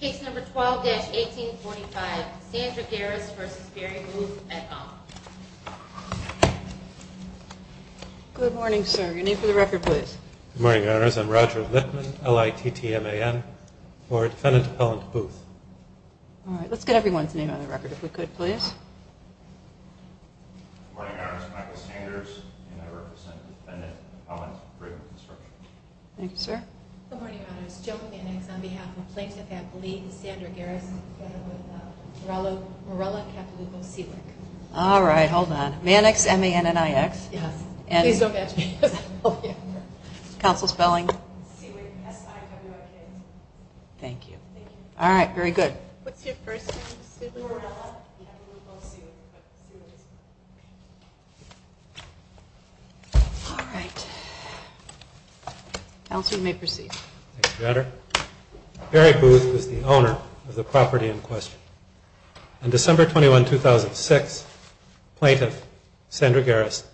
Case number 12-1845, Sandra Garest v. Barry Booth, MedCon. Good morning, sir. Your name for the record, please. Good morning, Your Honors. I'm Roger Whitman, L-I-T-T-M-A-N, for Defendant Appellant Booth. All right. Let's get everyone's name on the record, if we could, please. Good morning, Your Honors. Michael Sanders, and I represent Defendant Appellant Brigham and Consortium. Thank you, sir. Good morning, Your Honors. Joe Mannix, on behalf of Plaintiff Appellate Lee and Sandra Garest, together with Morella Cavalugo-Sewick. All right. Hold on. Mannix, M-A-N-N-I-X? Yes. Please don't catch me. Counsel, spelling? Sewick, S-I-W-I-K. Thank you. All right. Very good. What's your first name? Morella Cavalugo-Sewick. All right. Counsel, you may proceed. Thank you, Your Honor. Barry Booth was the owner of the property in question. On December 21, 2006, Plaintiff Sandra Garest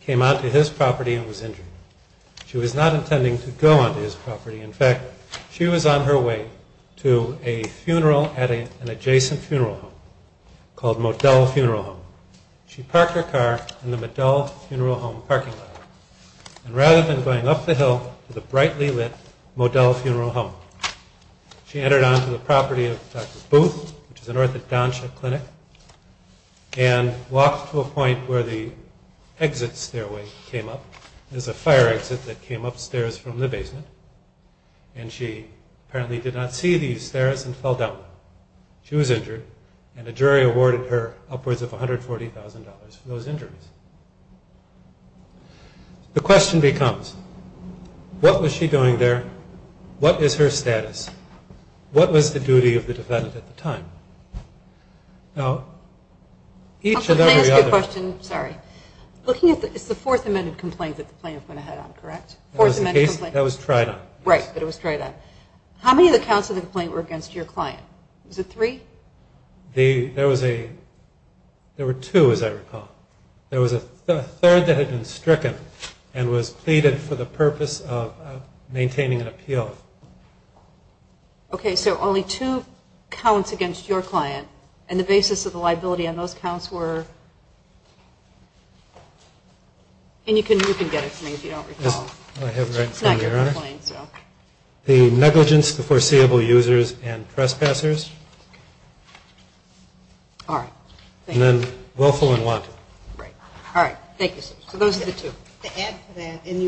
came onto his property and was injured. She was not intending to go onto his property. In fact, she was on her way to a funeral at an adjacent funeral home called Modell Funeral Home. She parked her car in the Modell Funeral Home parking lot. And rather than going up the hill to the brightly lit Modell Funeral Home, she entered onto the property of Dr. Booth, which is north of Doncha Clinic, and walked to a point where the exit stairway came up. There's a fire exit that came upstairs from the basement, and she apparently did not see these stairs and fell down them. She was injured, and a jury awarded her upwards of $140,000 for those injuries. The question becomes, what was she doing there? What is her status? What was the duty of the defendant at the time? Now, each and every other- Let me ask you a question. Sorry. Looking at the-it's the Fourth Amendment complaint that the plaintiff went ahead on, correct? Fourth Amendment complaint? That was tried on. Right, but it was tried on. How many of the counts of the complaint were against your client? Was it three? There was a-there were two, as I recall. There was a third that had been stricken and was pleaded for the purpose of maintaining an appeal. Okay, so only two counts against your client, and the basis of the liability on those counts were-and you can get it to me if you don't recall. I have it right in front of me, Your Honor. It's not your complaint, so. The negligence of foreseeable users and trespassers. All right. And then willful and wanton. Right. All right. Thank you, sir. So those are the two. To add to that, in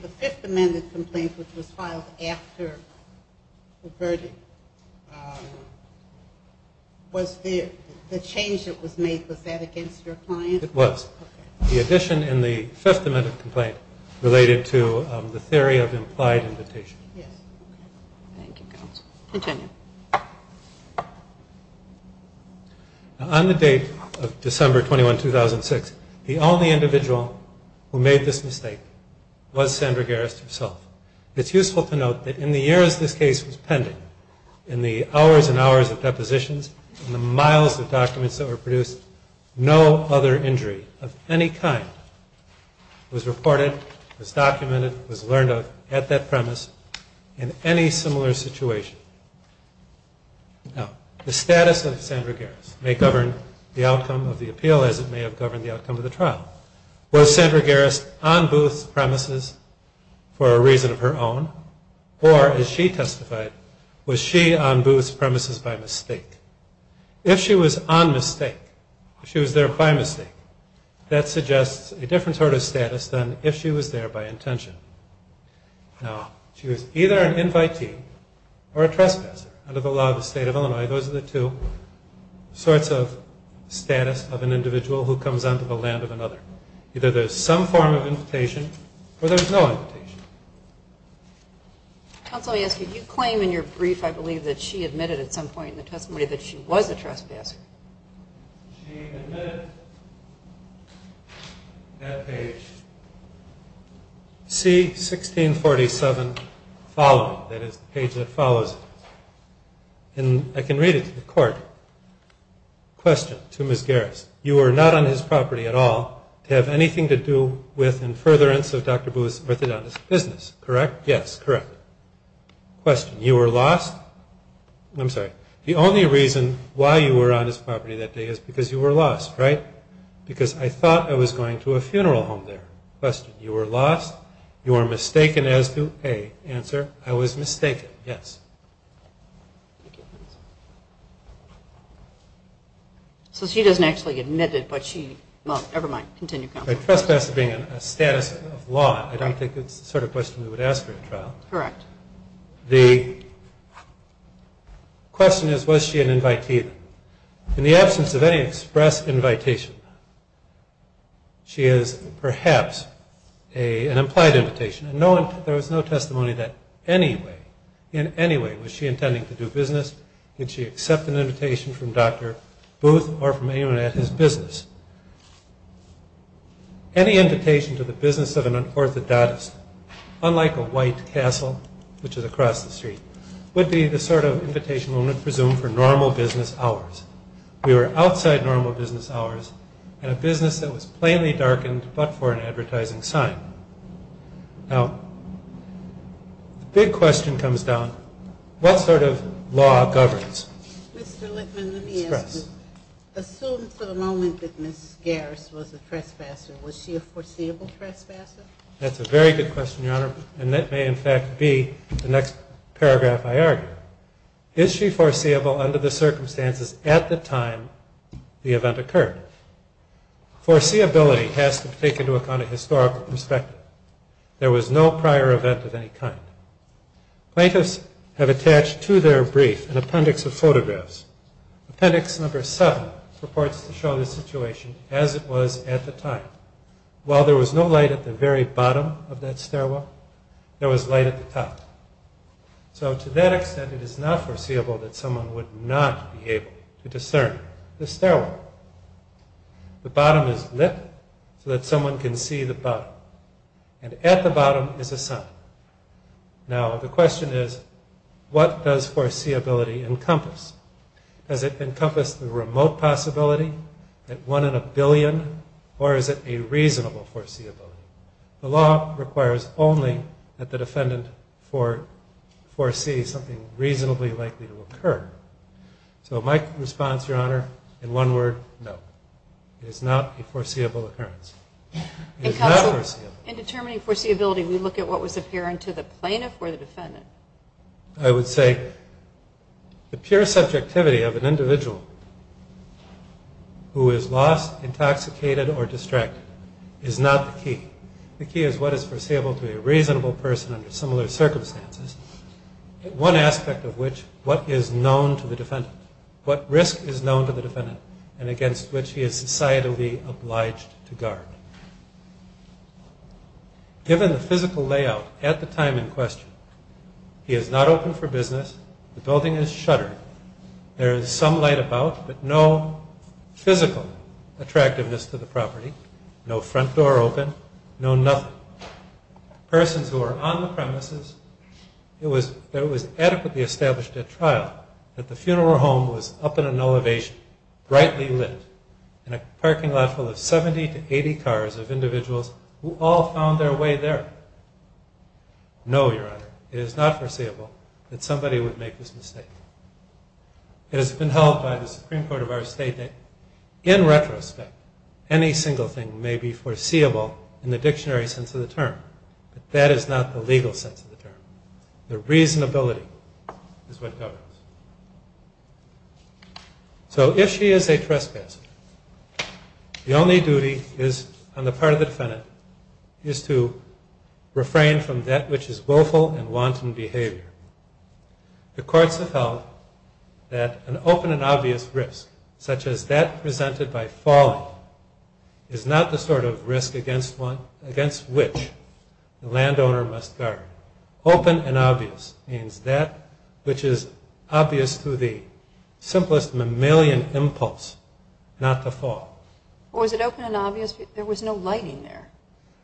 the Fifth Amendment complaint, which was filed after the verdict, was the change that was made, was that against your client? It was. Okay. The addition in the Fifth Amendment complaint related to the theory of implied invitation. Yes. Thank you, counsel. Continue. On the date of December 21, 2006, the only individual who made this mistake was Sandra Garris herself. It's useful to note that in the years this case was pending, in the hours and hours of depositions, in the miles of documents that were produced, no other injury of any kind was reported, was documented, was learned of at that premise in any similar situation. Now, the status of Sandra Garris may govern the outcome of the appeal as it may have governed the outcome of the trial. Was Sandra Garris on Booth's premises for a reason of her own? Or, as she testified, was she on Booth's premises by mistake? If she was on mistake, if she was there by mistake, that suggests a different sort of status than if she was there by intention. Now, she was either an invitee or a trespasser under the law of the State of Illinois. Those are the two sorts of status of an individual who comes onto the land of another. Either there's some form of invitation or there's no invitation. Counsel, I ask you, do you claim in your brief, I believe, that she admitted at some point in the testimony that she was a trespasser? She admitted at page C1647 following, that is the page that follows it. And I can read it to the court. Question to Ms. Garris. You were not on his property at all to have anything to do with in furtherance of Dr. Booth's business, correct? Yes, correct. Question. You were lost? I'm sorry. The only reason why you were on his property that day is because you were lost, right? Because I thought I was going to a funeral home there. Question. You were lost? You are mistaken as to a, answer, I was mistaken. Yes. Thank you. So she doesn't actually admit it, but she, well, never mind. Continue, counsel. A trespasser being a status of law, I don't think it's the sort of question we would ask her in trial. Correct. The question is, was she an invitee? In the absence of any express invitation, she is perhaps an implied invitation. There was no testimony that any way, in any way, was she intending to do business. Did she accept an invitation from Dr. Booth or from anyone at his business? Any invitation to the business of an unorthodontist, unlike a white castle, which is across the street, would be the sort of invitation one would presume for normal business hours. We were outside normal business hours in a business that was plainly darkened but for an advertising sign. Now, the big question comes down, what sort of law governs? Mr. Lippman, let me ask you. Express. Assume for the moment that Ms. Garris was a trespasser. Was she a foreseeable trespasser? That's a very good question, Your Honor. And that may, in fact, be the next paragraph I argue. Is she foreseeable under the circumstances at the time the event occurred? Foreseeability has to be taken to account in historical perspective. There was no prior event of any kind. Plaintiffs have attached to their brief an appendix of photographs. Appendix number seven purports to show the situation as it was at the time. While there was no light at the very bottom of that stairwell, there was light at the top. So to that extent, it is not foreseeable that someone would not be able to discern the stairwell. The bottom is lit so that someone can see the bottom. And at the bottom is a sign. Now, the question is, what does foreseeability encompass? Does it encompass the remote possibility, that one in a billion, or is it a reasonable foreseeability? The law requires only that the defendant foresee something reasonably likely to occur. So my response, Your Honor, in one word, no. It is not a foreseeable occurrence. It is not foreseeable. In determining foreseeability, we look at what was apparent to the plaintiff or the defendant. I would say the pure subjectivity of an individual who is lost, intoxicated, or distracted is not the key. The key is what is foreseeable to a reasonable person under similar circumstances. One aspect of which, what is known to the defendant. What risk is known to the defendant and against which he is societally obliged to guard. Given the physical layout at the time in question, he is not open for business. The building is shuttered. There is some light about, but no physical attractiveness to the property. No front door open. No nothing. Persons who are on the premises. It was adequately established at trial that the funeral home was up in an elevation, brightly lit, in a parking lot full of 70 to 80 cars of individuals who all found their way there. No, Your Honor, it is not foreseeable that somebody would make this mistake. It has been held by the Supreme Court of our state that, in retrospect, any single thing may be foreseeable in the dictionary sense of the term. But that is not the legal sense of the term. The reasonability is what governs. So if she is a trespasser, the only duty on the part of the defendant is to refrain from that which is willful and wanton behavior. The courts have held that an open and obvious risk, such as that presented by falling, is not the sort of risk against which the landowner must guard. Open and obvious means that which is obvious through the simplest mammalian impulse not to fall. Was it open and obvious? There was no lighting there.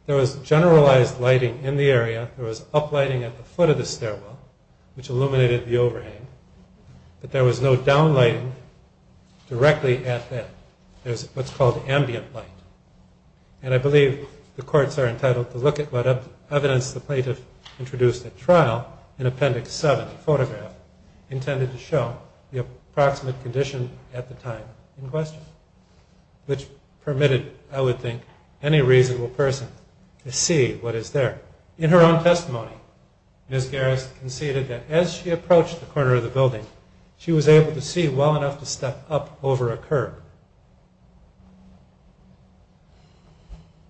There was generalized lighting in the area. There was uplighting at the foot of the stairwell, which illuminated the overhang. But there was no downlighting directly at that. There's what's called ambient light. And I believe the courts are entitled to look at what evidence the plaintiff introduced at trial in Appendix 7, the photograph, intended to show the approximate condition at the time in question, which permitted, I would think, any reasonable person to see what is there. In her own testimony, Ms. Garris conceded that as she approached the corner of the building, she was able to see well enough to step up over a curb.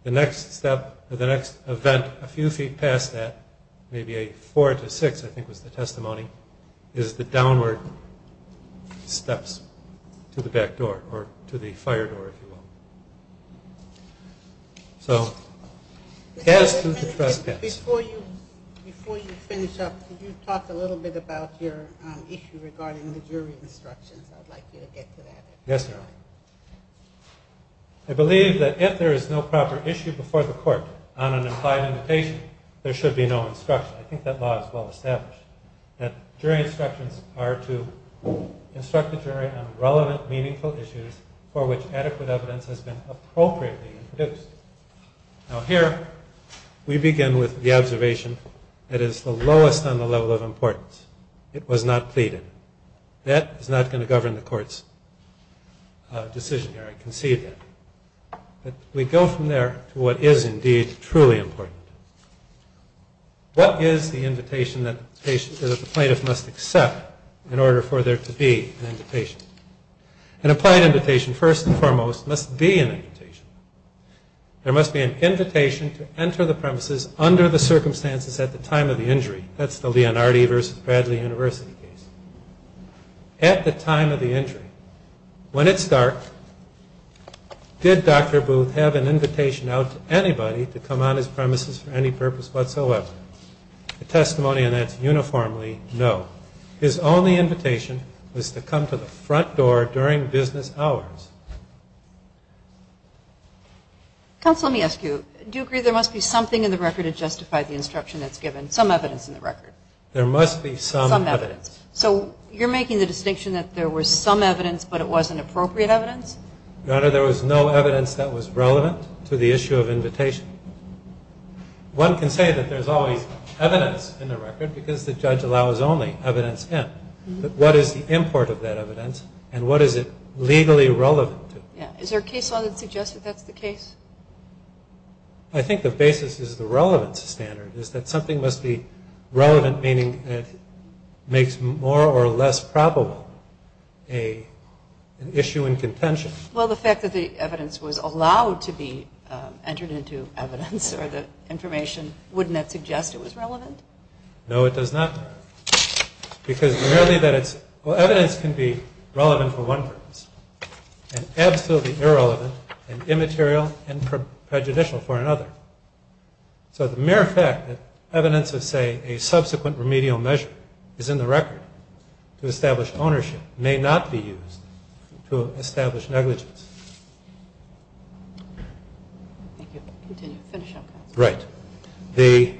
The next event a few feet past that, maybe a four to six, I think was the testimony, is the downward steps to the back door, or to the fire door, if you will. So, Gadsden to Tress Gadsden. Before you finish up, could you talk a little bit about your issue regarding the jury instructions? I'd like you to get to that. Yes, ma'am. I believe that if there is no proper issue before the court on an implied invitation, there should be no instruction. I think that law is well established. That jury instructions are to instruct the jury on relevant, meaningful issues for which adequate evidence has been appropriately produced. Now here, we begin with the observation that is the lowest on the level of importance. It was not pleaded. That is not going to govern the court's decision here. I concede that. But we go from there to what is indeed truly important. What is the invitation that the plaintiff must accept in order for there to be an invitation? An implied invitation, first and foremost, must be an invitation. There must be an invitation to enter the premises under the circumstances at the time of the injury. That's the Leonardi versus Bradley University case. At the time of the injury, when it's dark, did Dr. Booth have an invitation out to anybody to come on his premises for any purpose whatsoever? The testimony on that is uniformly no. His only invitation was to come to the front door during business hours. Counsel, let me ask you, do you agree there must be something in the record to justify the instruction that's given, some evidence in the record? There must be some evidence. So you're making the distinction that there was some evidence, but it wasn't appropriate evidence? Your Honor, there was no evidence that was relevant to the issue of invitation. One can say that there's always evidence in the record, because the judge allows only evidence in. But what is the import of that evidence, and what is it legally relevant to? Is there a case law that suggests that that's the case? I think the basis is the relevance standard, is that something must be relevant meaning it makes more or less probable an issue in contention. Well, the fact that the evidence was allowed to be entered into evidence or the information, wouldn't that suggest it was relevant? No, it does not. Because merely that it's – well, evidence can be relevant for one purpose and absolutely irrelevant and immaterial and prejudicial for another. So the mere fact that evidence of, say, a subsequent remedial measure is in the record to establish ownership may not be used to establish negligence. Thank you. Continue. Finish up, Counsel. Right. The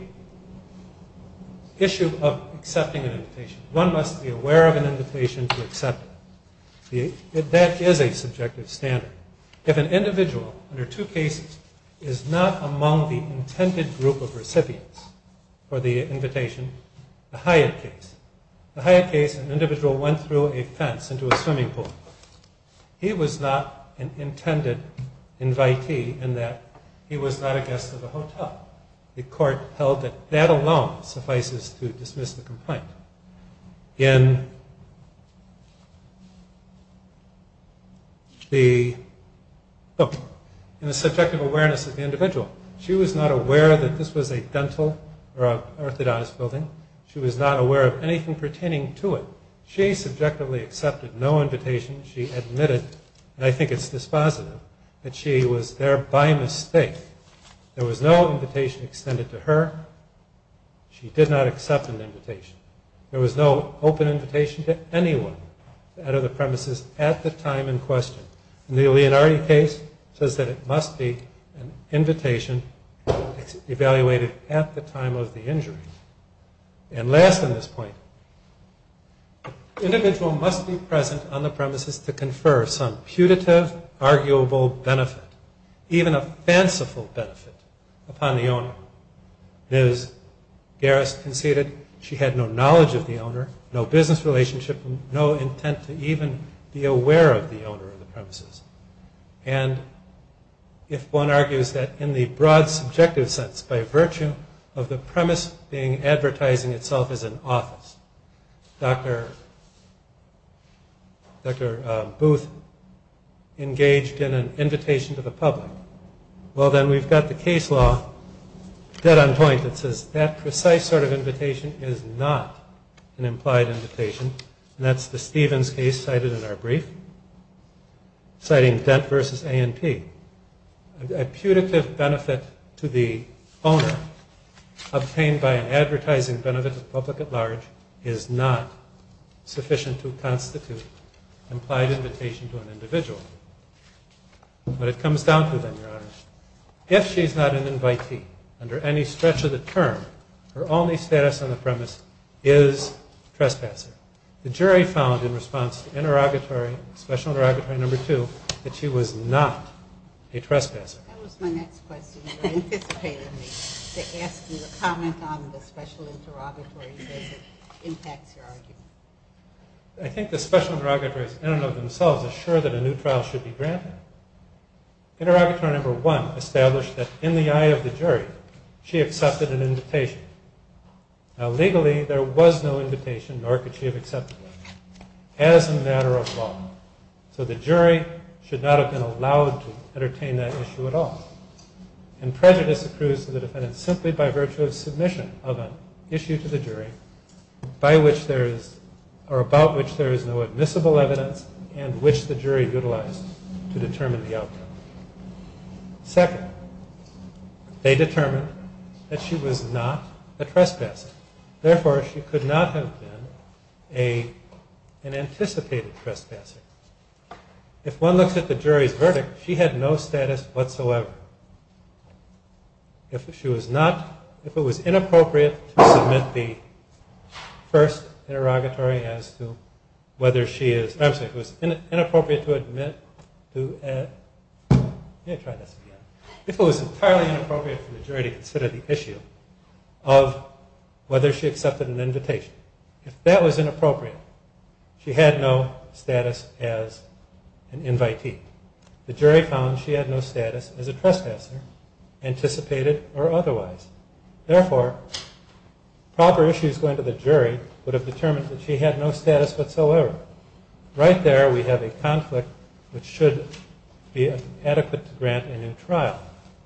issue of accepting an invitation. One must be aware of an invitation to accept it. That is a subjective standard. If an individual under two cases is not among the intended group of recipients for the invitation – the Hyatt case. The Hyatt case, an individual went through a fence into a swimming pool. He was not an intended invitee in that he was not a guest of the hotel. The court held that that alone suffices to dismiss the complaint. In the subjective awareness of the individual, she was not aware that this was a dental or an orthodontist building. She was not aware of anything pertaining to it. So she subjectively accepted no invitation. She admitted, and I think it's dispositive, that she was there by mistake. There was no invitation extended to her. She did not accept an invitation. There was no open invitation to anyone out of the premises at the time in question. And the Leonardi case says that it must be an invitation evaluated at the time of the injury. And last on this point, the individual must be present on the premises to confer some putative, arguable benefit, even a fanciful benefit, upon the owner. Ms. Garris conceded she had no knowledge of the owner, no business relationship, no intent to even be aware of the owner of the premises. And if one argues that in the broad subjective sense, by virtue of the premise being advertising itself as an office, Dr. Booth engaged in an invitation to the public, well then we've got the case law dead on point that says that precise sort of invitation is not an implied invitation. And that's the Stevens case cited in our brief, citing Dent versus A&P. A putative benefit to the owner obtained by an advertising benefit to the public at large is not sufficient to constitute implied invitation to an individual. But it comes down to then, Your Honor, if she's not an invitee under any stretch of the term, her only status on the premise is trespasser. The jury found in response to interrogatory, special interrogatory number two, that she was not a trespasser. That was my next question. You anticipated me to ask you to comment on the special interrogatory because it impacts your argument. I think the special interrogatories in and of themselves assure that a new trial should be granted. Interrogatory number one established that in the eye of the jury, she accepted an invitation. Now legally, there was no invitation, nor could she have accepted one, as a matter of law. So the jury should not have been allowed to entertain that issue at all. And prejudice accrues to the defendant simply by virtue of submission of an issue to the jury by which there is, or about which there is no admissible evidence and which the jury utilized to determine the outcome. Second, they determined that she was not a trespasser. Therefore, she could not have been an anticipated trespasser. If one looks at the jury's verdict, she had no status whatsoever. If she was not, if it was inappropriate to submit the first interrogatory as to whether she is, I'm sorry, if it was inappropriate to admit to, let me try this again. If it was entirely inappropriate for the jury to consider the issue of whether she accepted an invitation, if that was inappropriate, she had no status as an invitee. The jury found she had no status as a trespasser, anticipated or otherwise. Therefore, proper issues going to the jury would have determined that she had no status whatsoever. Right there we have a conflict which should be adequate to grant a new trial.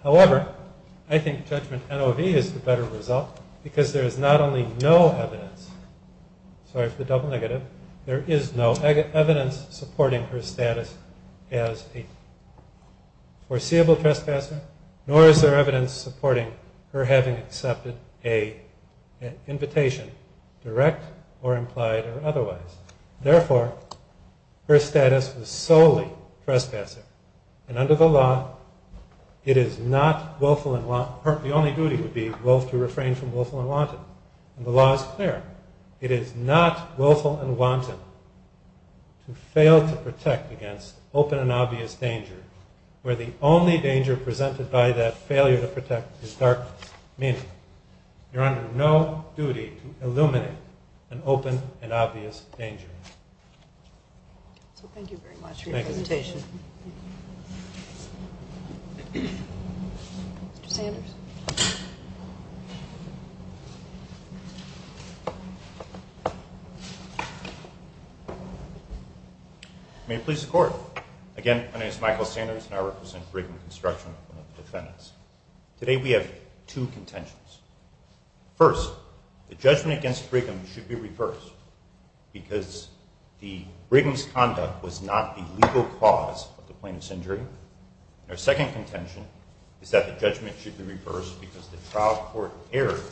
However, I think judgment NOV is the better result because there is not only no evidence, sorry for the double negative, there is no evidence supporting her status as a foreseeable trespasser, nor is there evidence supporting her having accepted an invitation, direct or implied or otherwise. Therefore, her status was solely trespasser. And under the law, it is not willful and want, the only duty would be to refrain from willful and wanton. The law is clear. It is not willful and wanton to fail to protect against open and obvious danger, where the only danger presented by that failure to protect is darkness. Meaning, you're under no duty to illuminate an open and obvious danger. Thank you very much for your presentation. Mr. Sanders. May it please the Court. Again, my name is Michael Sanders and I represent Brigham Construction, one of the defendants. Today we have two contentions. First, the judgment against Brigham should be reversed because Brigham's conduct was not the legal cause of the plaintiff's injury. Our second contention is that the judgment should be reversed because the trial court erred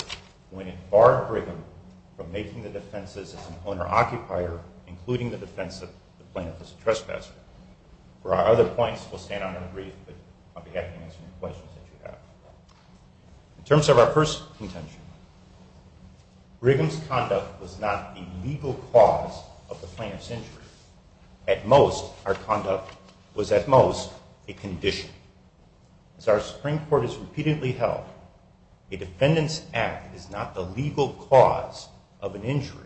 when it barred Brigham from making the defenses as an owner-occupier, including the defense of the plaintiff as a trespasser. For our other points, we'll stand on our brief, but I'll be happy to answer any questions that you have. In terms of our first contention, Brigham's conduct was not the legal cause of the plaintiff's injury. At most, our conduct was at most a condition. As our Supreme Court has repeatedly held, a defendant's act is not the legal cause of an injury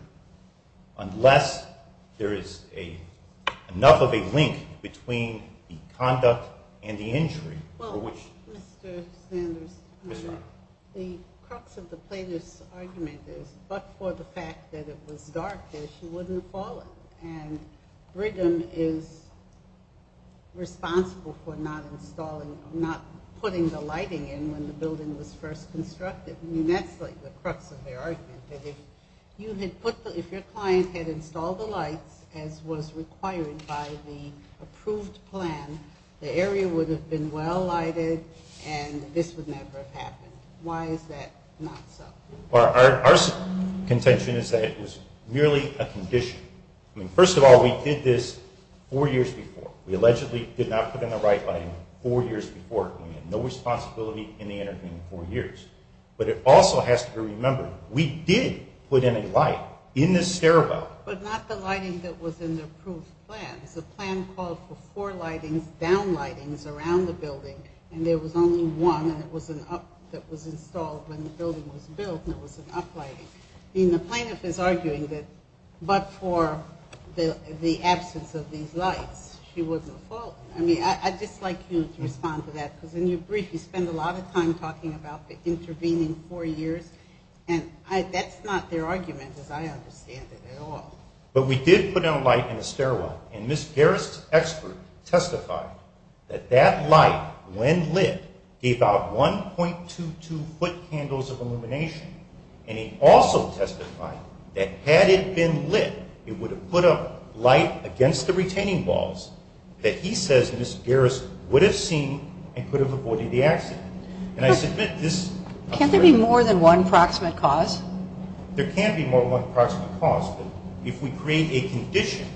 unless there is enough of a link between the conduct and the injury for which it was committed. Mr. Sanders, the crux of the plaintiff's argument is, but for the fact that it was dark, that she wouldn't have called it, and Brigham is responsible for not installing, not putting the lighting in when the building was first constructed. I mean, that's like the crux of their argument, that if you had put the, if your client had installed the lights, as was required by the approved plan, the area would have been well-lighted and this would never have happened. Why is that not so? Our contention is that it was merely a condition. I mean, first of all, we did this four years before. We allegedly did not put in the right lighting four years before. We had no responsibility in the intervening four years. But it also has to be remembered, we did put in a light in the stairwell. But not the lighting that was in the approved plan. The plan called for four lightings, down lightings, around the building, and there was only one, and it was an up, that was installed when the building was built, and it was an up lighting. I mean, the plaintiff is arguing that, but for the absence of these lights, she wasn't at fault. I mean, I'd just like you to respond to that, because in your brief, you spend a lot of time talking about the intervening four years, and that's not their argument, as I understand it, at all. But we did put in a light in the stairwell, and Ms. Garris' expert testified that that light, when lit, gave out 1.22 foot candles of illumination, and he also testified that had it been lit, it would have put a light against the retaining walls that he says Ms. Garris would have seen and could have avoided the accident. Can't there be more than one proximate cause? There can be more than one proximate cause, but if we create a condition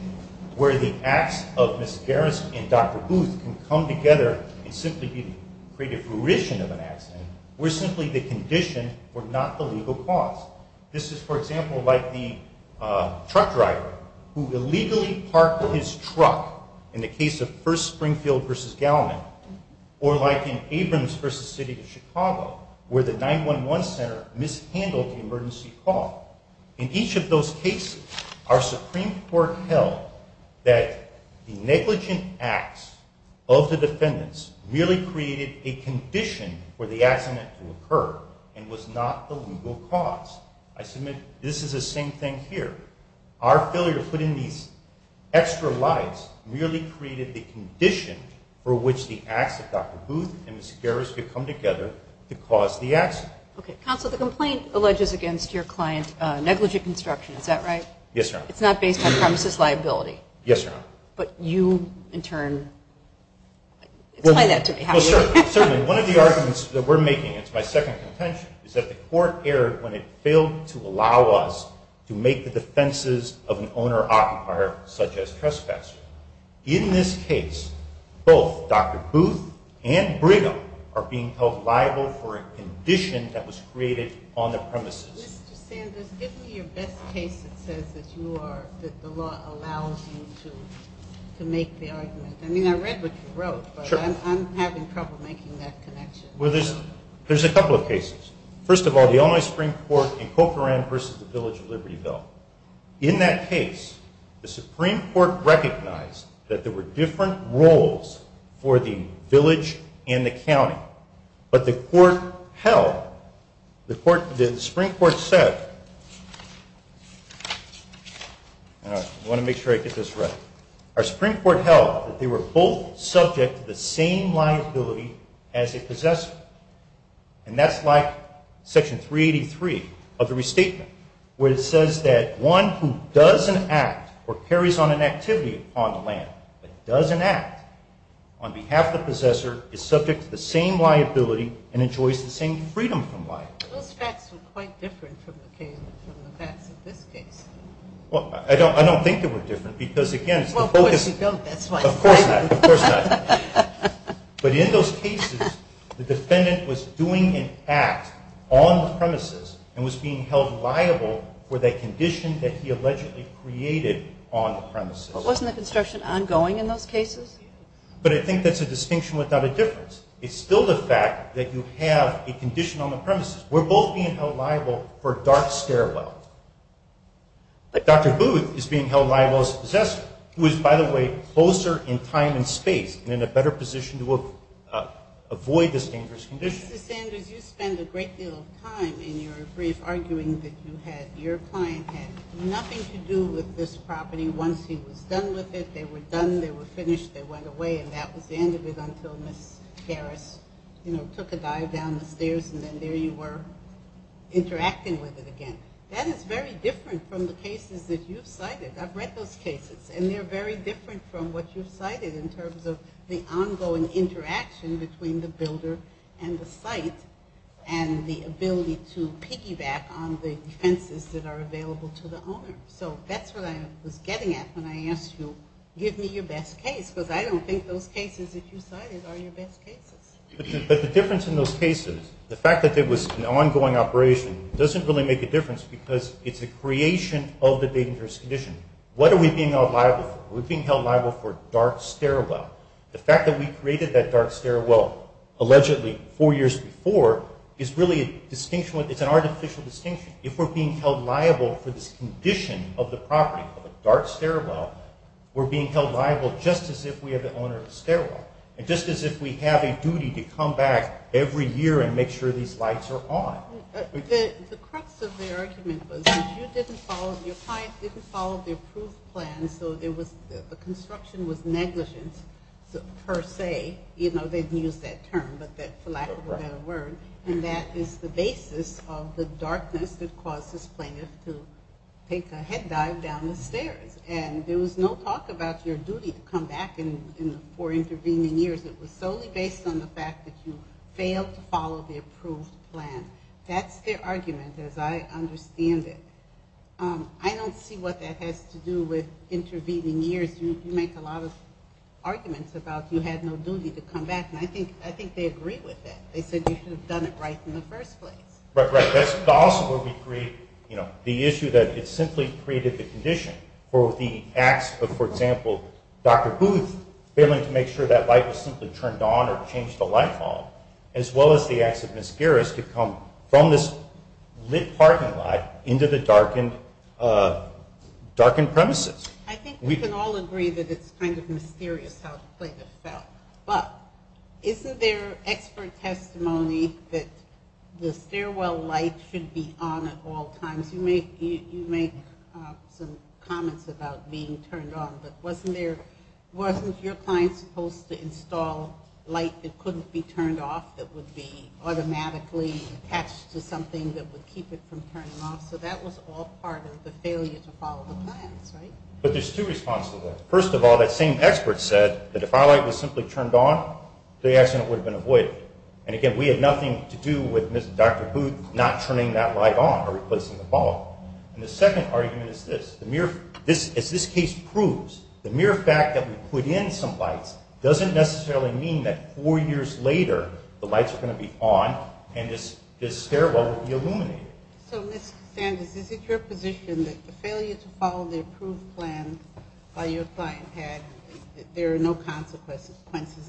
where the acts of Ms. Garris and Dr. Booth can come together and simply create a fruition of an accident, we're simply the condition, we're not the legal cause. This is, for example, like the truck driver who illegally parked his truck, in the case of 1st Springfield v. Galliman, or like in Abrams v. City of Chicago, where the 911 center mishandled the emergency call. In each of those cases, our Supreme Court held that the negligent acts of the defendants merely created a condition for the accident to occur and was not the legal cause. I submit this is the same thing here. Our failure to put in these extra lights merely created the condition for which the acts of Dr. Booth and Ms. Garris could come together to cause the accident. Counsel, the complaint alleges against your client negligent construction, is that right? Yes, Your Honor. It's not based on premises liability? Yes, Your Honor. But you, in turn, explain that to me. Certainly, one of the arguments that we're making, it's my second contention, is that the Court erred when it failed to allow us to make the defenses of an owner-occupier, such as trespassers. In this case, both Dr. Booth and Brigham are being held liable for a condition that was created on the premises. Mr. Sanders, give me your best case that says that the law allows you to make the argument. I mean, I read what you wrote, but I'm having trouble making that connection. Well, there's a couple of cases. First of all, the Illinois Supreme Court in Cochran v. The Village of Libertyville. In that case, the Supreme Court recognized that there were different roles for the village and the county, but the Supreme Court held that they were both subject to the same liability as a possessor. And that's like Section 383 of the Restatement, where it says that one who doesn't act or carries on an activity on the land, but doesn't act on behalf of the possessor, is subject to the same liability and enjoys the same freedom from liability. Those facts were quite different from the facts of this case. Well, I don't think they were different because, again, it's the focus. Well, of course you don't. That's why. Of course not. Of course not. But in those cases, the defendant was doing an act on the premises and was being held liable for that condition that he allegedly created on the premises. But wasn't the construction ongoing in those cases? But I think that's a distinction without a difference. It's still the fact that you have a condition on the premises. We're both being held liable for dark stairwell. Dr. Booth is being held liable as a possessor. He was, by the way, closer in time and space and in a better position to avoid this dangerous condition. Mr. Sanders, you spend a great deal of time in your brief arguing that your client had nothing to do with this property. Once he was done with it, they were done, they were finished, they went away, and that was the end of it until Ms. Harris took a dive down the stairs and then there you were interacting with it again. That is very different from the cases that you've cited. I've read those cases, and they're very different from what you've cited in terms of the ongoing interaction between the builder and the site and the ability to piggyback on the defenses that are available to the owner. So that's what I was getting at when I asked you, give me your best case, because I don't think those cases that you cited are your best cases. But the difference in those cases, the fact that it was an ongoing operation, doesn't really make a difference because it's a creation of the dangerous condition. What are we being held liable for? We're being held liable for dark stairwell. The fact that we created that dark stairwell allegedly four years before is really a distinction, it's an artificial distinction. If we're being held liable for this condition of the property, of a dark stairwell, we're being held liable just as if we are the owner of the stairwell and just as if we have a duty to come back every year and make sure these lights are on. The crux of the argument was that you didn't follow, your client didn't follow the approved plan so the construction was negligent per se. You know, they didn't use that term, but for lack of a better word. And that is the basis of the darkness that caused this plaintiff to take a head dive down the stairs. And there was no talk about your duty to come back for intervening years. It was solely based on the fact that you failed to follow the approved plan. That's their argument as I understand it. I don't see what that has to do with intervening years. You make a lot of arguments about you had no duty to come back. And I think they agree with that. They said you should have done it right in the first place. Right, right. That's also where we create, you know, the issue that it simply created the condition for the acts of, for example, Dr. Booth failing to make sure that light was simply turned on or changed the light on, as well as the acts of Ms. Garris to come from this lit parking lot into the darkened premises. I think we can all agree that it's kind of mysterious how the plaintiff felt. But isn't there expert testimony that the stairwell light should be on at all times? You make some comments about being turned on, but wasn't your client supposed to install light that couldn't be turned off that would be automatically attached to something that would keep it from turning off? So that was all part of the failure to follow the plans, right? But there's two responses to that. First of all, that same expert said that if our light was simply turned on, the accident would have been avoided. And, again, we had nothing to do with Dr. Booth not turning that light on or replacing the bulb. And the second argument is this. As this case proves, the mere fact that we put in some lights doesn't necessarily mean that four years later the lights are going to be on and this stairwell will be illuminated. So, Ms. Cassandras, is it your position that the failure to follow the approved plan that your client had, there are no consequences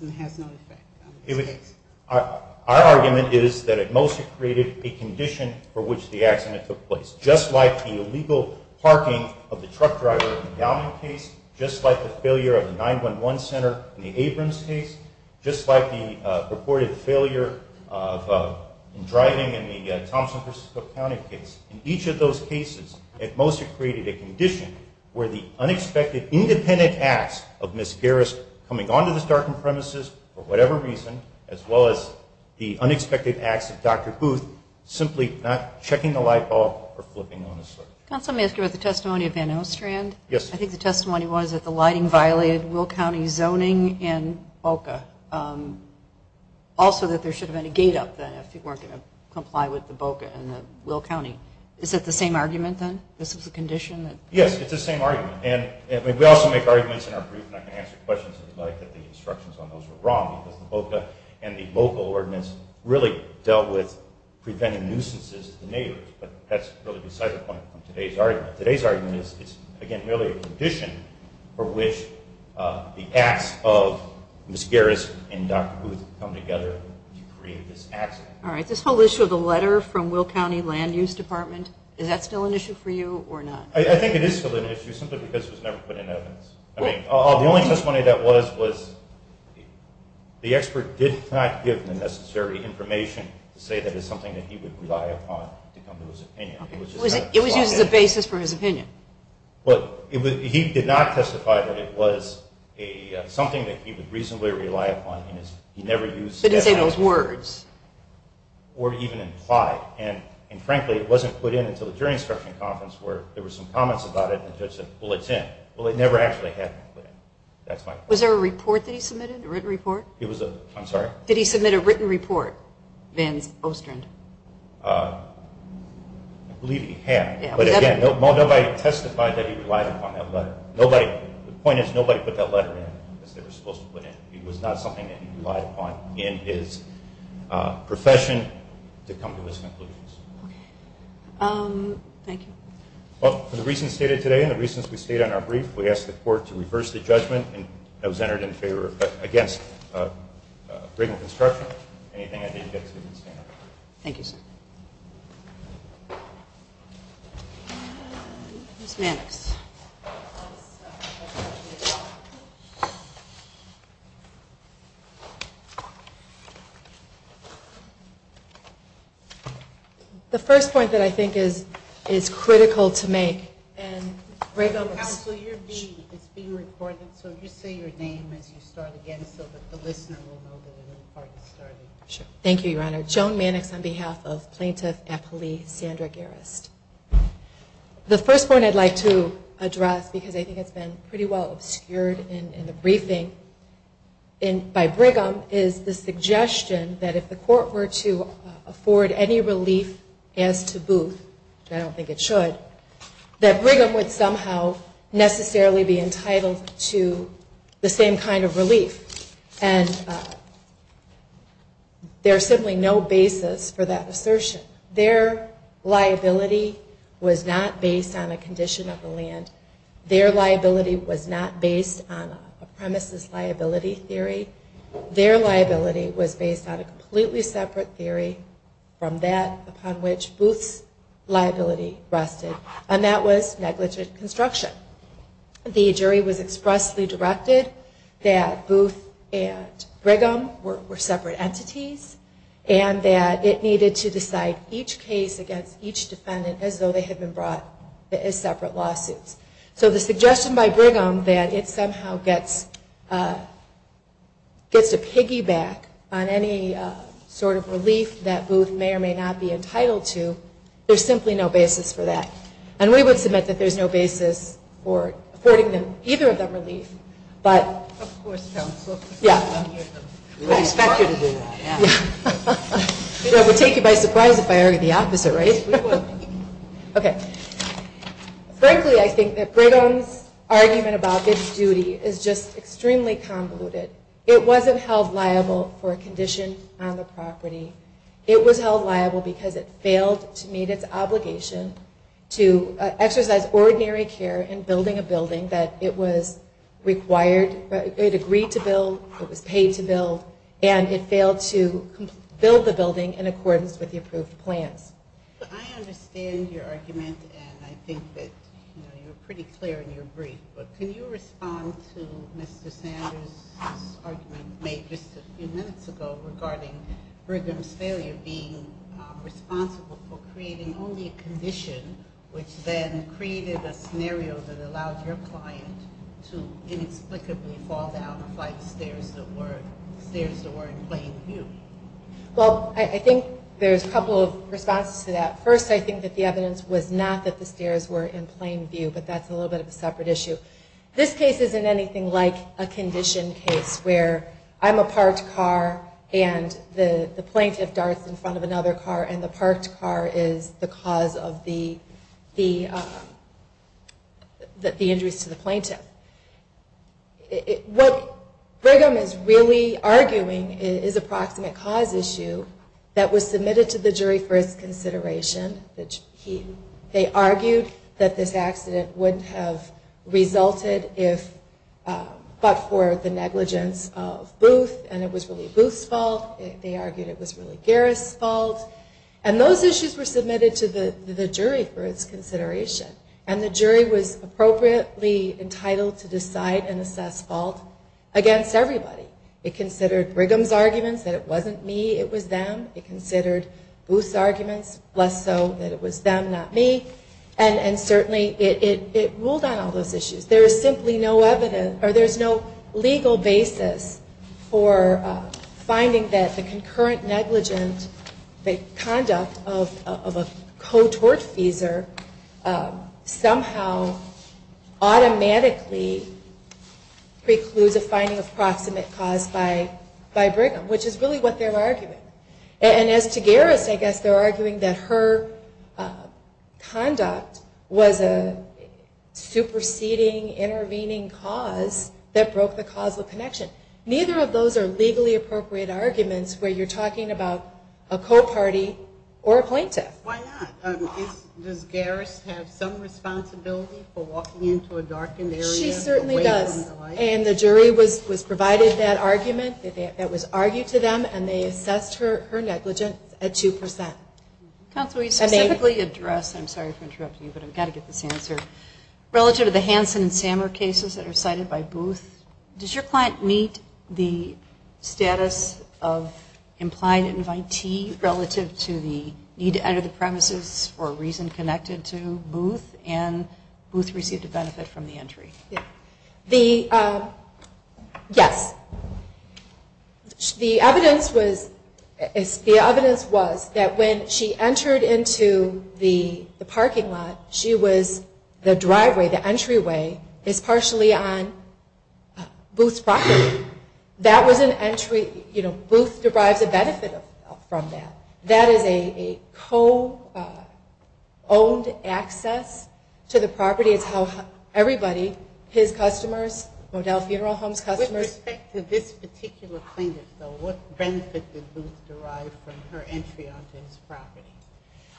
and has no effect on this case? Our argument is that it mostly created a condition for which the accident took place. Just like the illegal parking of the truck driver in the Downing case, just like the failure of the 911 center in the Abrams case, just like the purported failure of driving in the Thompson, P.C. County case, in each of those cases it mostly created a condition where the unexpected independent acts of Ms. Garris coming onto this darkened premises, for whatever reason, as well as the unexpected acts of Dr. Booth, simply not checking the light bulb or flipping on the switch. Counsel, may I ask you about the testimony of Van Ostrand? Yes. I think the testimony was that the lighting violated Will County zoning and BOCA. Also that there should have been a gate up then if you weren't going to comply with the BOCA and the Will County. Is that the same argument, then? This is the condition? Yes, it's the same argument. And we also make arguments in our brief, and I can answer questions if you'd like, that the instructions on those were wrong, because the BOCA and the local ordinance really dealt with preventing nuisances to the neighbors. But that's really beside the point of today's argument. Today's argument is, again, really a condition for which the acts of Ms. Garris and Dr. Booth come together to create this accident. All right. This whole issue of the letter from Will County Land Use Department, is that still an issue for you or not? I think it is still an issue, simply because it was never put in evidence. I mean, the only testimony that was, was the expert did not give the necessary information to say that it's something that he would rely upon to come to his opinion. Okay. It was used as a basis for his opinion? Well, he did not testify that it was something that he would reasonably rely upon. He never used it as evidence. But he didn't say those words? Or even implied. And frankly, it wasn't put in until the jury instruction conference, where there were some comments about it, and the judge said, well, it's in. Well, it never actually happened. Was there a report that he submitted, a written report? I'm sorry? Did he submit a written report, Van Ostrand? I believe he had. But, again, nobody testified that he relied upon that letter. The point is, nobody put that letter in, as they were supposed to put in. It was not something that he relied upon in his profession to come to his conclusions. Okay. Thank you. Well, for the reasons stated today and the reasons we stated in our brief, we ask the Court to reverse the judgment that was entered in favor of, against Brigham Construction. Anything I didn't get to, Ms. Mannix? Thank you, sir. Ms. Mannix. The first point that I think is critical to make. Counsel, it's being recorded, so you say your name as you start again, so that the listener will know that it is part of the starting. Thank you, Your Honor. Joan Mannix, on behalf of Plaintiff Appellee Sandra Garris. The first point I'd like to address, because I think it's been pretty well obscured in the briefing by Brigham, is the suggestion that if the Court were to afford any relief as to Booth, and I don't think it should, that Brigham would somehow necessarily be entitled to the same kind of relief. And there's simply no basis for that assertion. Their liability was not based on a condition of the land. Their liability was not based on a premises liability theory. Their liability was based on a completely separate theory from that upon which Booth's liability rested, and that was negligent construction. The jury was expressly directed that Booth and Brigham were separate entities, and that it needed to decide each case against each defendant as though they had been brought as separate lawsuits. So the suggestion by Brigham that it somehow gets to piggyback on any sort of there's simply no basis for that. And we would submit that there's no basis for affording either of them relief, but... Of course, counsel. Yeah. We would expect you to do that, yeah. I would take you by surprise if I argued the opposite, right? Yes, we would. Okay. Frankly, I think that Brigham's argument about Booth's duty is just extremely convoluted. It wasn't held liable for a condition on the property. It was held liable because it failed to meet its obligation to exercise ordinary care in building a building that it was required, it agreed to build, it was paid to build, and it failed to build the building in accordance with the approved plans. I understand your argument, and I think that you're pretty clear in your brief, but can you respond to Mr. Sanders' argument made just a few minutes ago regarding Brigham's failure being responsible for creating only a condition, which then created a scenario that allowed your client to inexplicably fall down the flight of stairs that were in plain view? Well, I think there's a couple of responses to that. First, I think that the evidence was not that the stairs were in plain view, but that's a little bit of a separate issue. This case isn't anything like a condition case where I'm a parked car, and the plaintiff darts in front of another car, and the parked car is the cause of the injuries to the plaintiff. What Brigham is really arguing is a proximate cause issue that was submitted to the jury for its consideration. They argued that this accident wouldn't have resulted but for the negligence of Booth, and it was really Booth's fault. They argued it was really Garris' fault. And those issues were submitted to the jury for its consideration, and the jury was appropriately entitled to decide and assess fault against everybody. It considered Brigham's arguments that it wasn't me, it was them. It considered Booth's arguments less so that it was them, not me. And certainly it ruled on all those issues. There is simply no legal basis for finding that the concurrent negligent conduct of a cotortfeasor somehow automatically precludes a finding of proximate cause by Brigham, which is really what they were arguing. And as to Garris, I guess they were arguing that her conduct was a superseding, intervening cause that broke the causal connection. Neither of those are legally appropriate arguments where you're talking about a co-party or a plaintiff. Why not? Does Garris have some responsibility for walking into a darkened area? She certainly does. And the jury was provided that argument that was argued to them, and they assessed her negligence at 2%. Counsel, you specifically address, I'm sorry for interrupting you, but I've got to get this answer. Relative to the Hanson and Sammer cases that are cited by Booth, does your client meet the status of implied invitee relative to the need to enter the premises for a reason connected to Booth, and Booth received a benefit from the entry? Yes. The evidence was that when she entered into the parking lot, she was, the driveway, the entryway, is partially on Booth's property. That was an entry, you know, Booth derives a benefit from that. That is a co-owned access to the property. It's how everybody, his customers, Modell Funeral Homes customers, they all have access to the property. With respect to this particular plaintiff, though, what benefit did Booth derive from her entry onto his property?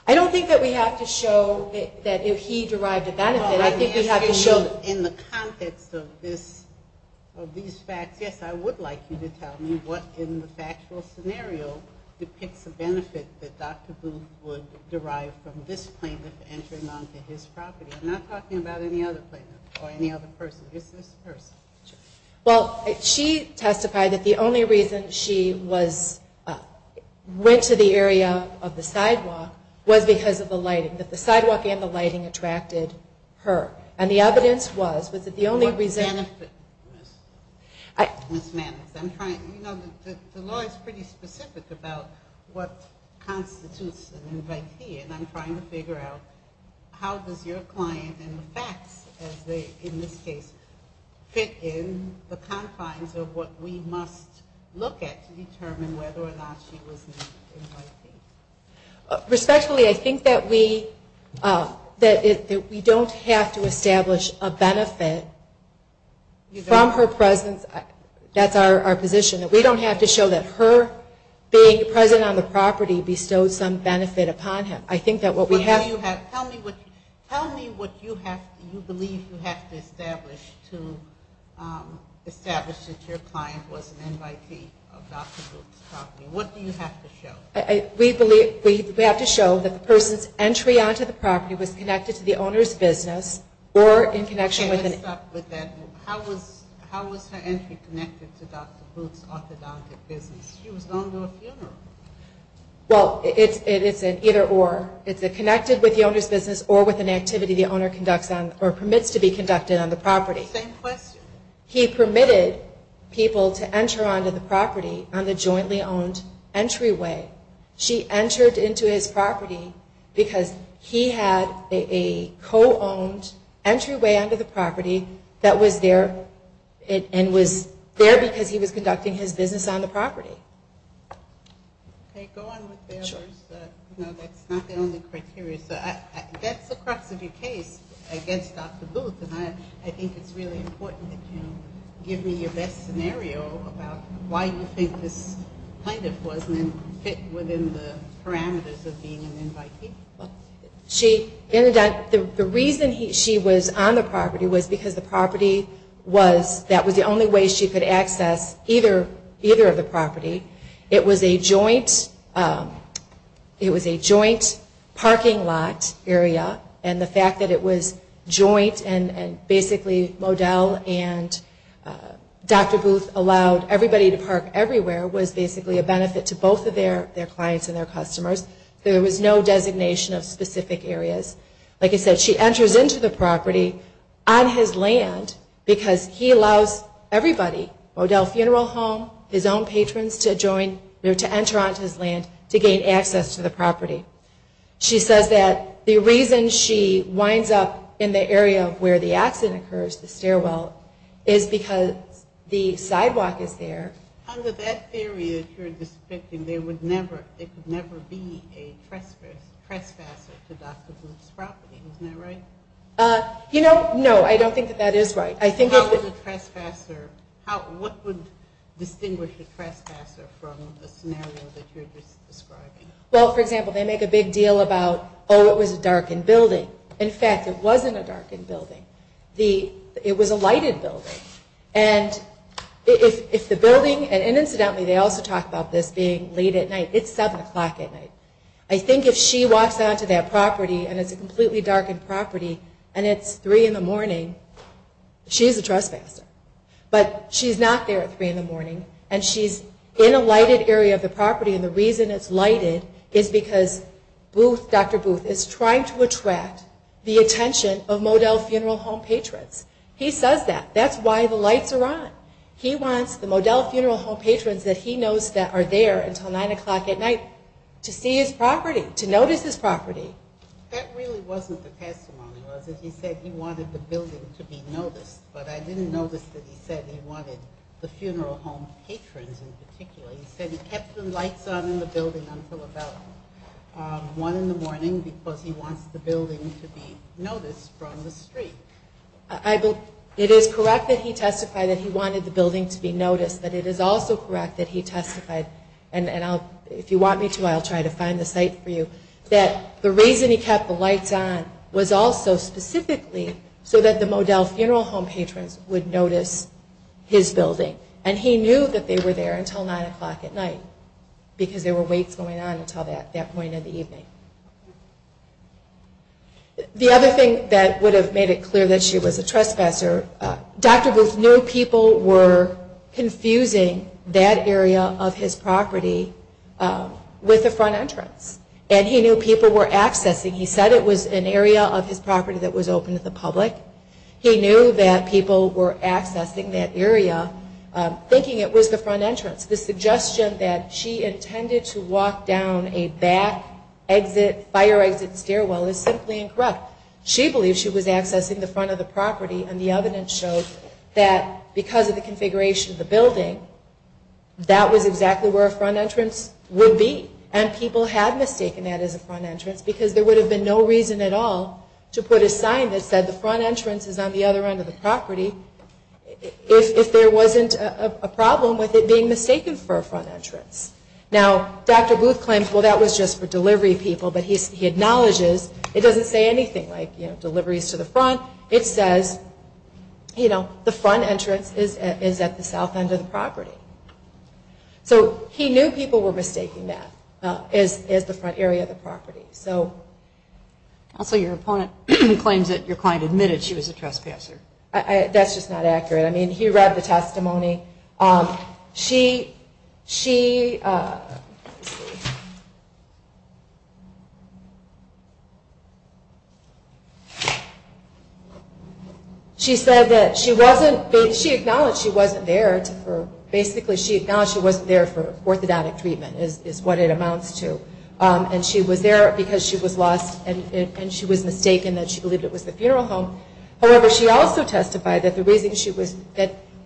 I don't think that we have to show that if he derived a benefit, I think we have to show that. In the context of this, of these facts, yes, I would like you to tell me what in the factual scenario depicts a benefit that Dr. Booth would derive from this plaintiff entering onto his property. I'm not talking about any other plaintiff or any other person, just this person. Sure. Well, she testified that the only reason she was, went to the area of the sidewalk was because of the lighting, that the sidewalk and the lighting attracted her. And the evidence was, was that the only reason. What benefit, Ms. Mannix, I'm trying, you know, the law is pretty specific about what constitutes an invitee, and I'm trying to figure out how does your client, and the facts as they, in this case, fit in the confines of what we must look at to determine whether or not she was an invitee. Respectfully, I think that we, that we don't have to establish a benefit from her presence. That's our position, that we don't have to show that her being present on the property bestowed some benefit upon him. I think that what we have. Tell me what, tell me what you have, you believe you have to establish to establish that your client was an invitee of Dr. Booth's property. What do you have to show? We believe, we have to show that the person's entry onto the property was connected to the owner's business or in connection with an. Okay, let's stop with that. How was her entry connected to Dr. Booth's orthodontic business? She was going to a funeral. Well, it's an either or. It's connected with the owner's business or with an activity the owner conducts on or permits to be conducted on the property. Same question. He permitted people to enter onto the property on the jointly owned entryway. She entered into his property because he had a co-owned entryway onto the property that was there and was there because he was conducting his business. Okay, go on with the others. No, that's not the only criteria. That's the crux of your case against Dr. Booth and I think it's really important that you give me your best scenario about why you think this plaintiff was and fit within the parameters of being an invitee. She, the reason she was on the property was because the property was, that was the only way she could access either of the property. It was a joint, it was a joint parking lot area and the fact that it was joint and basically Modell and Dr. Booth allowed everybody to park everywhere was basically a benefit to both of their clients and their customers. There was no designation of specific areas. Like I said, she enters into the property on his land because he allows everybody, Modell Funeral Home, his own patrons to join, to enter onto his land to gain access to the property. She says that the reason she winds up in the area where the accident occurs, the stairwell, is because the sidewalk is there. Under that theory that you're describing, there would never, there could never be a trespasser to Dr. Booth's property. Isn't that right? You know, no, I don't think that that is right. How would a trespasser, what would distinguish a trespasser from the scenario that you're just describing? Well, for example, they make a big deal about, oh, it was a darkened building. In fact, it wasn't a darkened building. It was a lighted building. And if the building, and incidentally, they also talk about this being late at night, it's 7 o'clock at night. I think if she walks onto that property and it's a completely darkened property, and it's 3 in the morning, she's a trespasser. But she's not there at 3 in the morning, and she's in a lighted area of the property. And the reason it's lighted is because Dr. Booth is trying to attract the attention of Modell Funeral Home patrons. He says that. That's why the lights are on. He wants the Modell Funeral Home patrons that he knows that are there until 9 o'clock at night to see his property, to notice his property. That really wasn't the testimony, was it? He said he wanted the building to be noticed. But I didn't notice that he said he wanted the funeral home patrons in particular. He said he kept the lights on in the building until about 1 in the morning because he wants the building to be noticed from the street. It is correct that he testified that he wanted the building to be noticed, but it is also correct that he testified, and if you want me to, I'll try to find the site for you, that the reason he kept the lights on was also specifically so that the Modell Funeral Home patrons would notice his building. And he knew that they were there until 9 o'clock at night because there were waits going on until that point in the evening. The other thing that would have made it clear that she was a trespasser, Dr. Booth knew people were confusing that area of his property with the front entrance. He said it was an area of his property that was open to the public. He knew that people were accessing that area thinking it was the front entrance. The suggestion that she intended to walk down a back exit, fire exit stairwell is simply incorrect. She believed she was accessing the front of the property, and the evidence shows that because of the configuration of the building, that was exactly where a front entrance would be, and people had mistaken that as a front entrance because there would have been no reason at all to put a sign that said the front entrance is on the other end of the property if there wasn't a problem with it being mistaken for a front entrance. Now, Dr. Booth claims, well, that was just for delivery people, but he acknowledges it doesn't say anything like, you know, deliveries to the front. It says, you know, the front entrance is at the south end of the property. So he knew people were mistaking that as the front area of the property. Also, your opponent claims that your client admitted she was a trespasser. That's just not accurate. I mean, he read the testimony. She said that she wasn't, she acknowledged she wasn't there for orthodontic treatment is what it amounts to, and she was there because she was lost, and she was mistaken that she believed it was the funeral home. However, she also testified that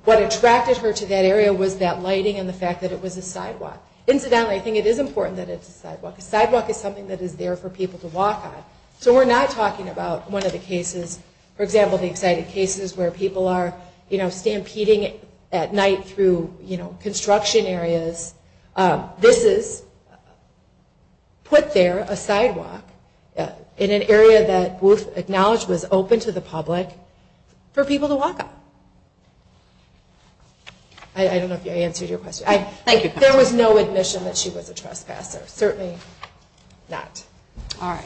what attracted her to that area was that lighting and the fact that it was a sidewalk. Incidentally, I think it is important that it's a sidewalk. A sidewalk is something that is there for people to walk on. So we're not talking about one of the cases, for example, the exciting cases where people are, you know, stampeding at night through, you know, construction areas. This is put there, a sidewalk, in an area that Booth acknowledged was open to the public for people to walk on. I don't know if I answered your question. Thank you. There was no admission that she was a trespasser. Certainly not. All right.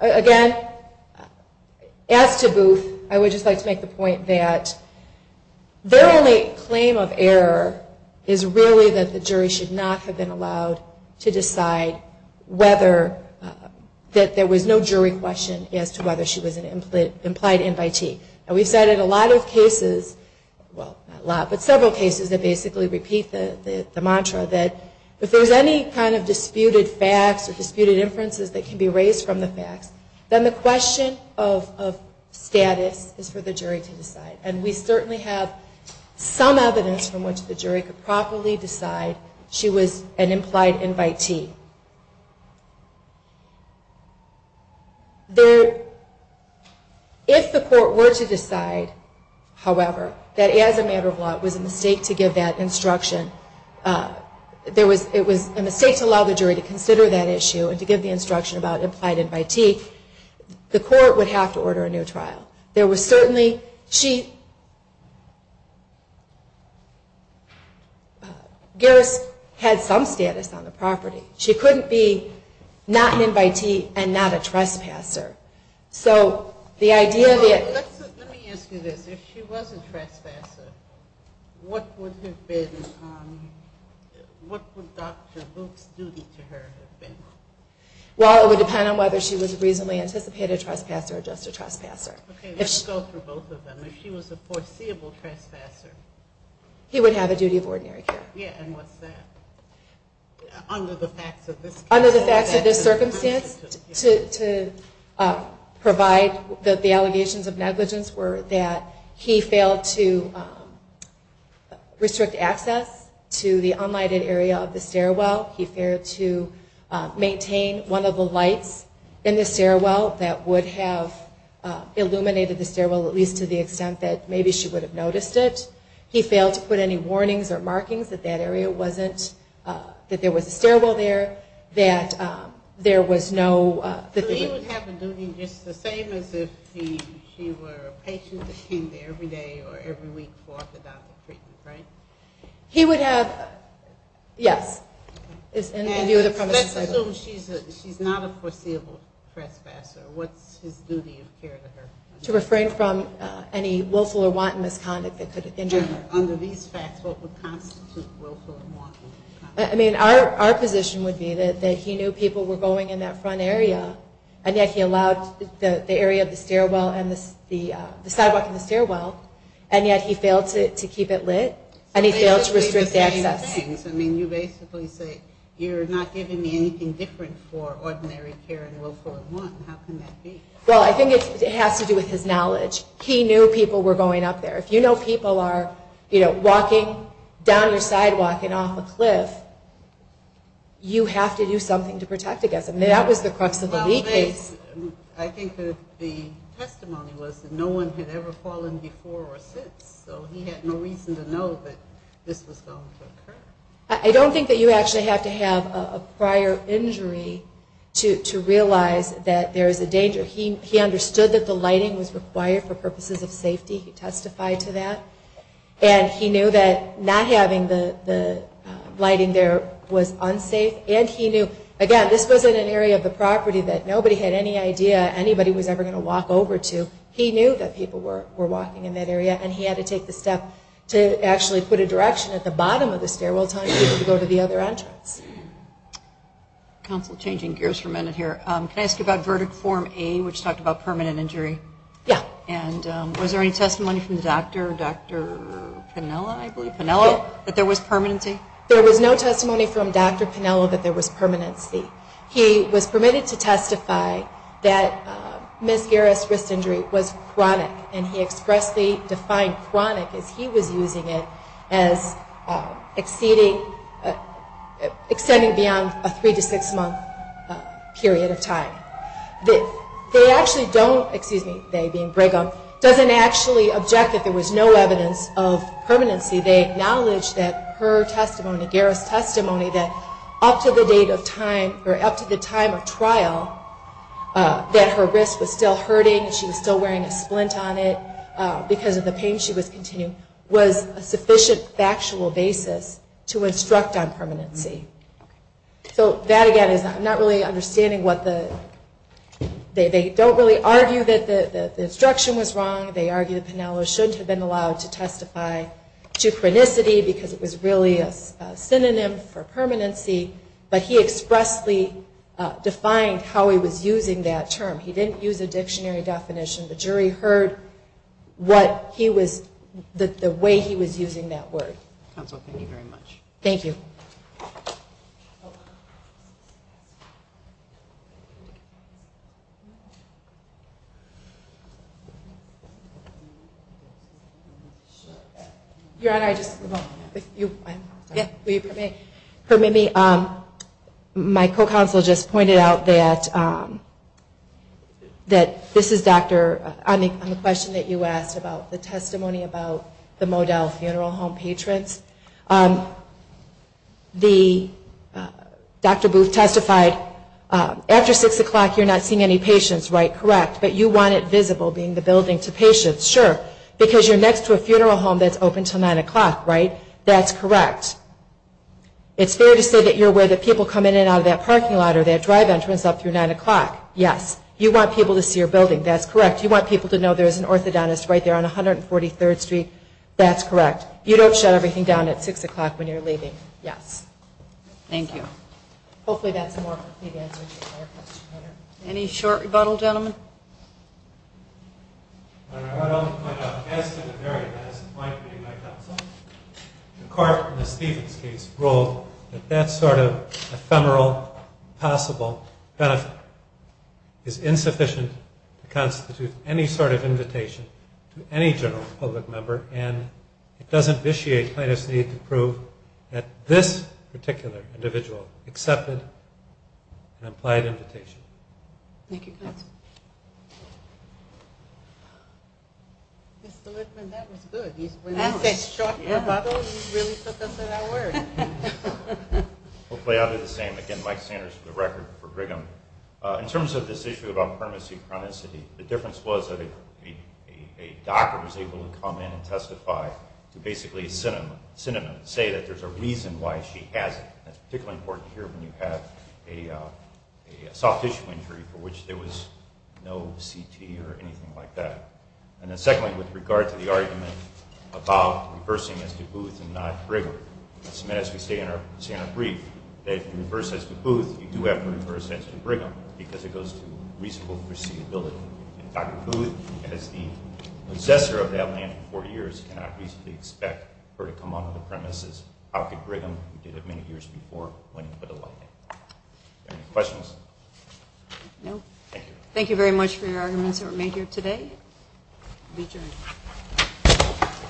Again, as to Booth, I would just like to make the point that their only claim of error is really that the jury should not have been allowed to decide whether, that there was no jury question as to whether she was an implied invitee. And we've cited a lot of cases, well, not a lot, but several cases that basically repeat the mantra that if there's any kind of disputed facts or disputed inferences that can be raised from the facts, then the question of status is for the jury to decide. And we certainly have some evidence from which the jury could properly decide she was an implied invitee. If the court were to decide, however, that as a matter of law it was a mistake to give that instruction, there was, it was a mistake to allow the jury to consider that issue and to give the instruction about implied invitee, the court would have to order a new trial. There was certainly, she, Garris had some status on the property. She couldn't be not an invitee and not a trespasser. So the idea that... Let me ask you this. If she was a trespasser, what would have been, what would Dr. Luke's duty to her have been? Well, it would depend on whether she was a reasonably anticipated trespasser or just a trespasser. Okay, let's go through both of them. If she was a foreseeable trespasser... He would have a duty of ordinary care. Yeah, and what's that? Under the facts of this case... Under the facts of this circumstance, to provide the allegations of negligence were that he failed to restrict access to the unlighted area of the stairwell. He failed to maintain one of the lights in the stairwell that would have illuminated the stairwell at least to the extent that maybe she would have noticed it. He failed to put any warnings or markings that that area wasn't, that there was a stairwell there, that there was no... So he would have a duty just the same as if she were a patient that came there every day or every week for the doctor's treatment, right? He would have... Yes. Let's assume she's not a foreseeable trespasser. What's his duty of care to her? To refrain from any willful or wanton misconduct that could injure her. Under these facts, what would constitute willful or wanton misconduct? I mean, our position would be that he knew people were going in that front area, and yet he allowed the area of the stairwell and the sidewalk in the stairwell, and yet he failed to keep it lit, and he failed to restrict access. I mean, you basically say, you're not giving me anything different for ordinary care and willful and wanton. How can that be? Well, I think it has to do with his knowledge. He knew people were going up there. If you know people are, you know, walking down your sidewalk and off a cliff, you have to do something to protect against them. That was the crux of the lead case. I think that the testimony was that no one had ever fallen before or since, so he had no reason to know that this was going to occur. I don't think that you actually have to have a prior injury to realize that there is a danger. He testified to that. And he knew that not having the lighting there was unsafe, and he knew, again, this wasn't an area of the property that nobody had any idea anybody was ever going to walk over to. He knew that people were walking in that area, and he had to take the step to actually put a direction at the bottom of the stairwell telling people to go to the other entrance. Counsel, changing gears for a minute here. Can I ask you about verdict form A, which talked about permanent injury? Yeah. And was there any testimony from the doctor, Dr. Piniella, I believe, that there was permanency? There was no testimony from Dr. Piniella that there was permanency. He was permitted to testify that Ms. Garris' wrist injury was chronic, and he expressly defined chronic as he was using it as exceeding, extending beyond a three- to six-month period of time. injury. So that, again, is I'm not really understanding what the, they don't really argue that there was permanency. They argue that there was no evidence of permanency. They acknowledge that her testimony, Garris' testimony, that up to the date of time, or up to the time of trial, that her wrist was still hurting, she was still wearing a splint on it because of the pain she was continuing, was a sufficient factual basis to instruct on permanency. So that, again, is I'm not really understanding what the, they don't really argue that the instruction was wrong. They argue that Piniella shouldn't have been allowed to testify to chronicity because it was really a synonym for permanency, but he expressly defined how he was using that term. He didn't use a dictionary definition. The jury heard what he was, the way he was using that word. Counsel, thank you very much. Thank you. Your Honor, I just, if you would permit me, my co-counsel just pointed out that, that this is Dr., on the question that you asked about the testimony about the Modell Funeral Home patrons. The, Dr. Booth testified, after 6 o'clock you're not seeing any Correct? Correct. Correct. Correct. But you want it visible, being the building, to patients. Sure. Because you're next to a funeral home that's open until 9 o'clock, right? That's correct. It's fair to say that you're aware that people come in and out of that parking lot or that drive entrance up through 9 o'clock. Yes. You want people to see your building. Any short rebuttal, gentlemen? Your Honor, I want to point out, as to the very last point made by counsel, the court in the Stevens case ruled that that sort of ephemeral possible benefit is insufficient to constitute any sort of invitation to any general public member, and it doesn't vitiate plaintiff's need to prove that this particular individual accepted an implied invitation. Thank you, counsel. Mr. Littman, that was good. When he said short rebuttal, he really took us at our word. Hopefully I'll do the same. Again, Mike Sanders for the record, for Brigham. In terms of this issue about primacy, chronicity, the difference was that a doctor was able to come in and testify to basically a synonym, say that there's a reason why she has it. That's particularly important to hear when you have a soft tissue injury for which there was no CT or anything like that. And then secondly, with regard to the argument about reversing as to Booth and not Brigham, as we say in our brief, that if you reverse as to Booth, you do have to reverse as to Brigham, because it goes to reasonable foreseeability. And Dr. Booth, as the possessor of that land for four years, cannot reasonably expect her to come on to the premises. How could Brigham, who did it many years before him, put a light on it? Any questions? No. Thank you very much for your arguments that were made here today. Be adjourned.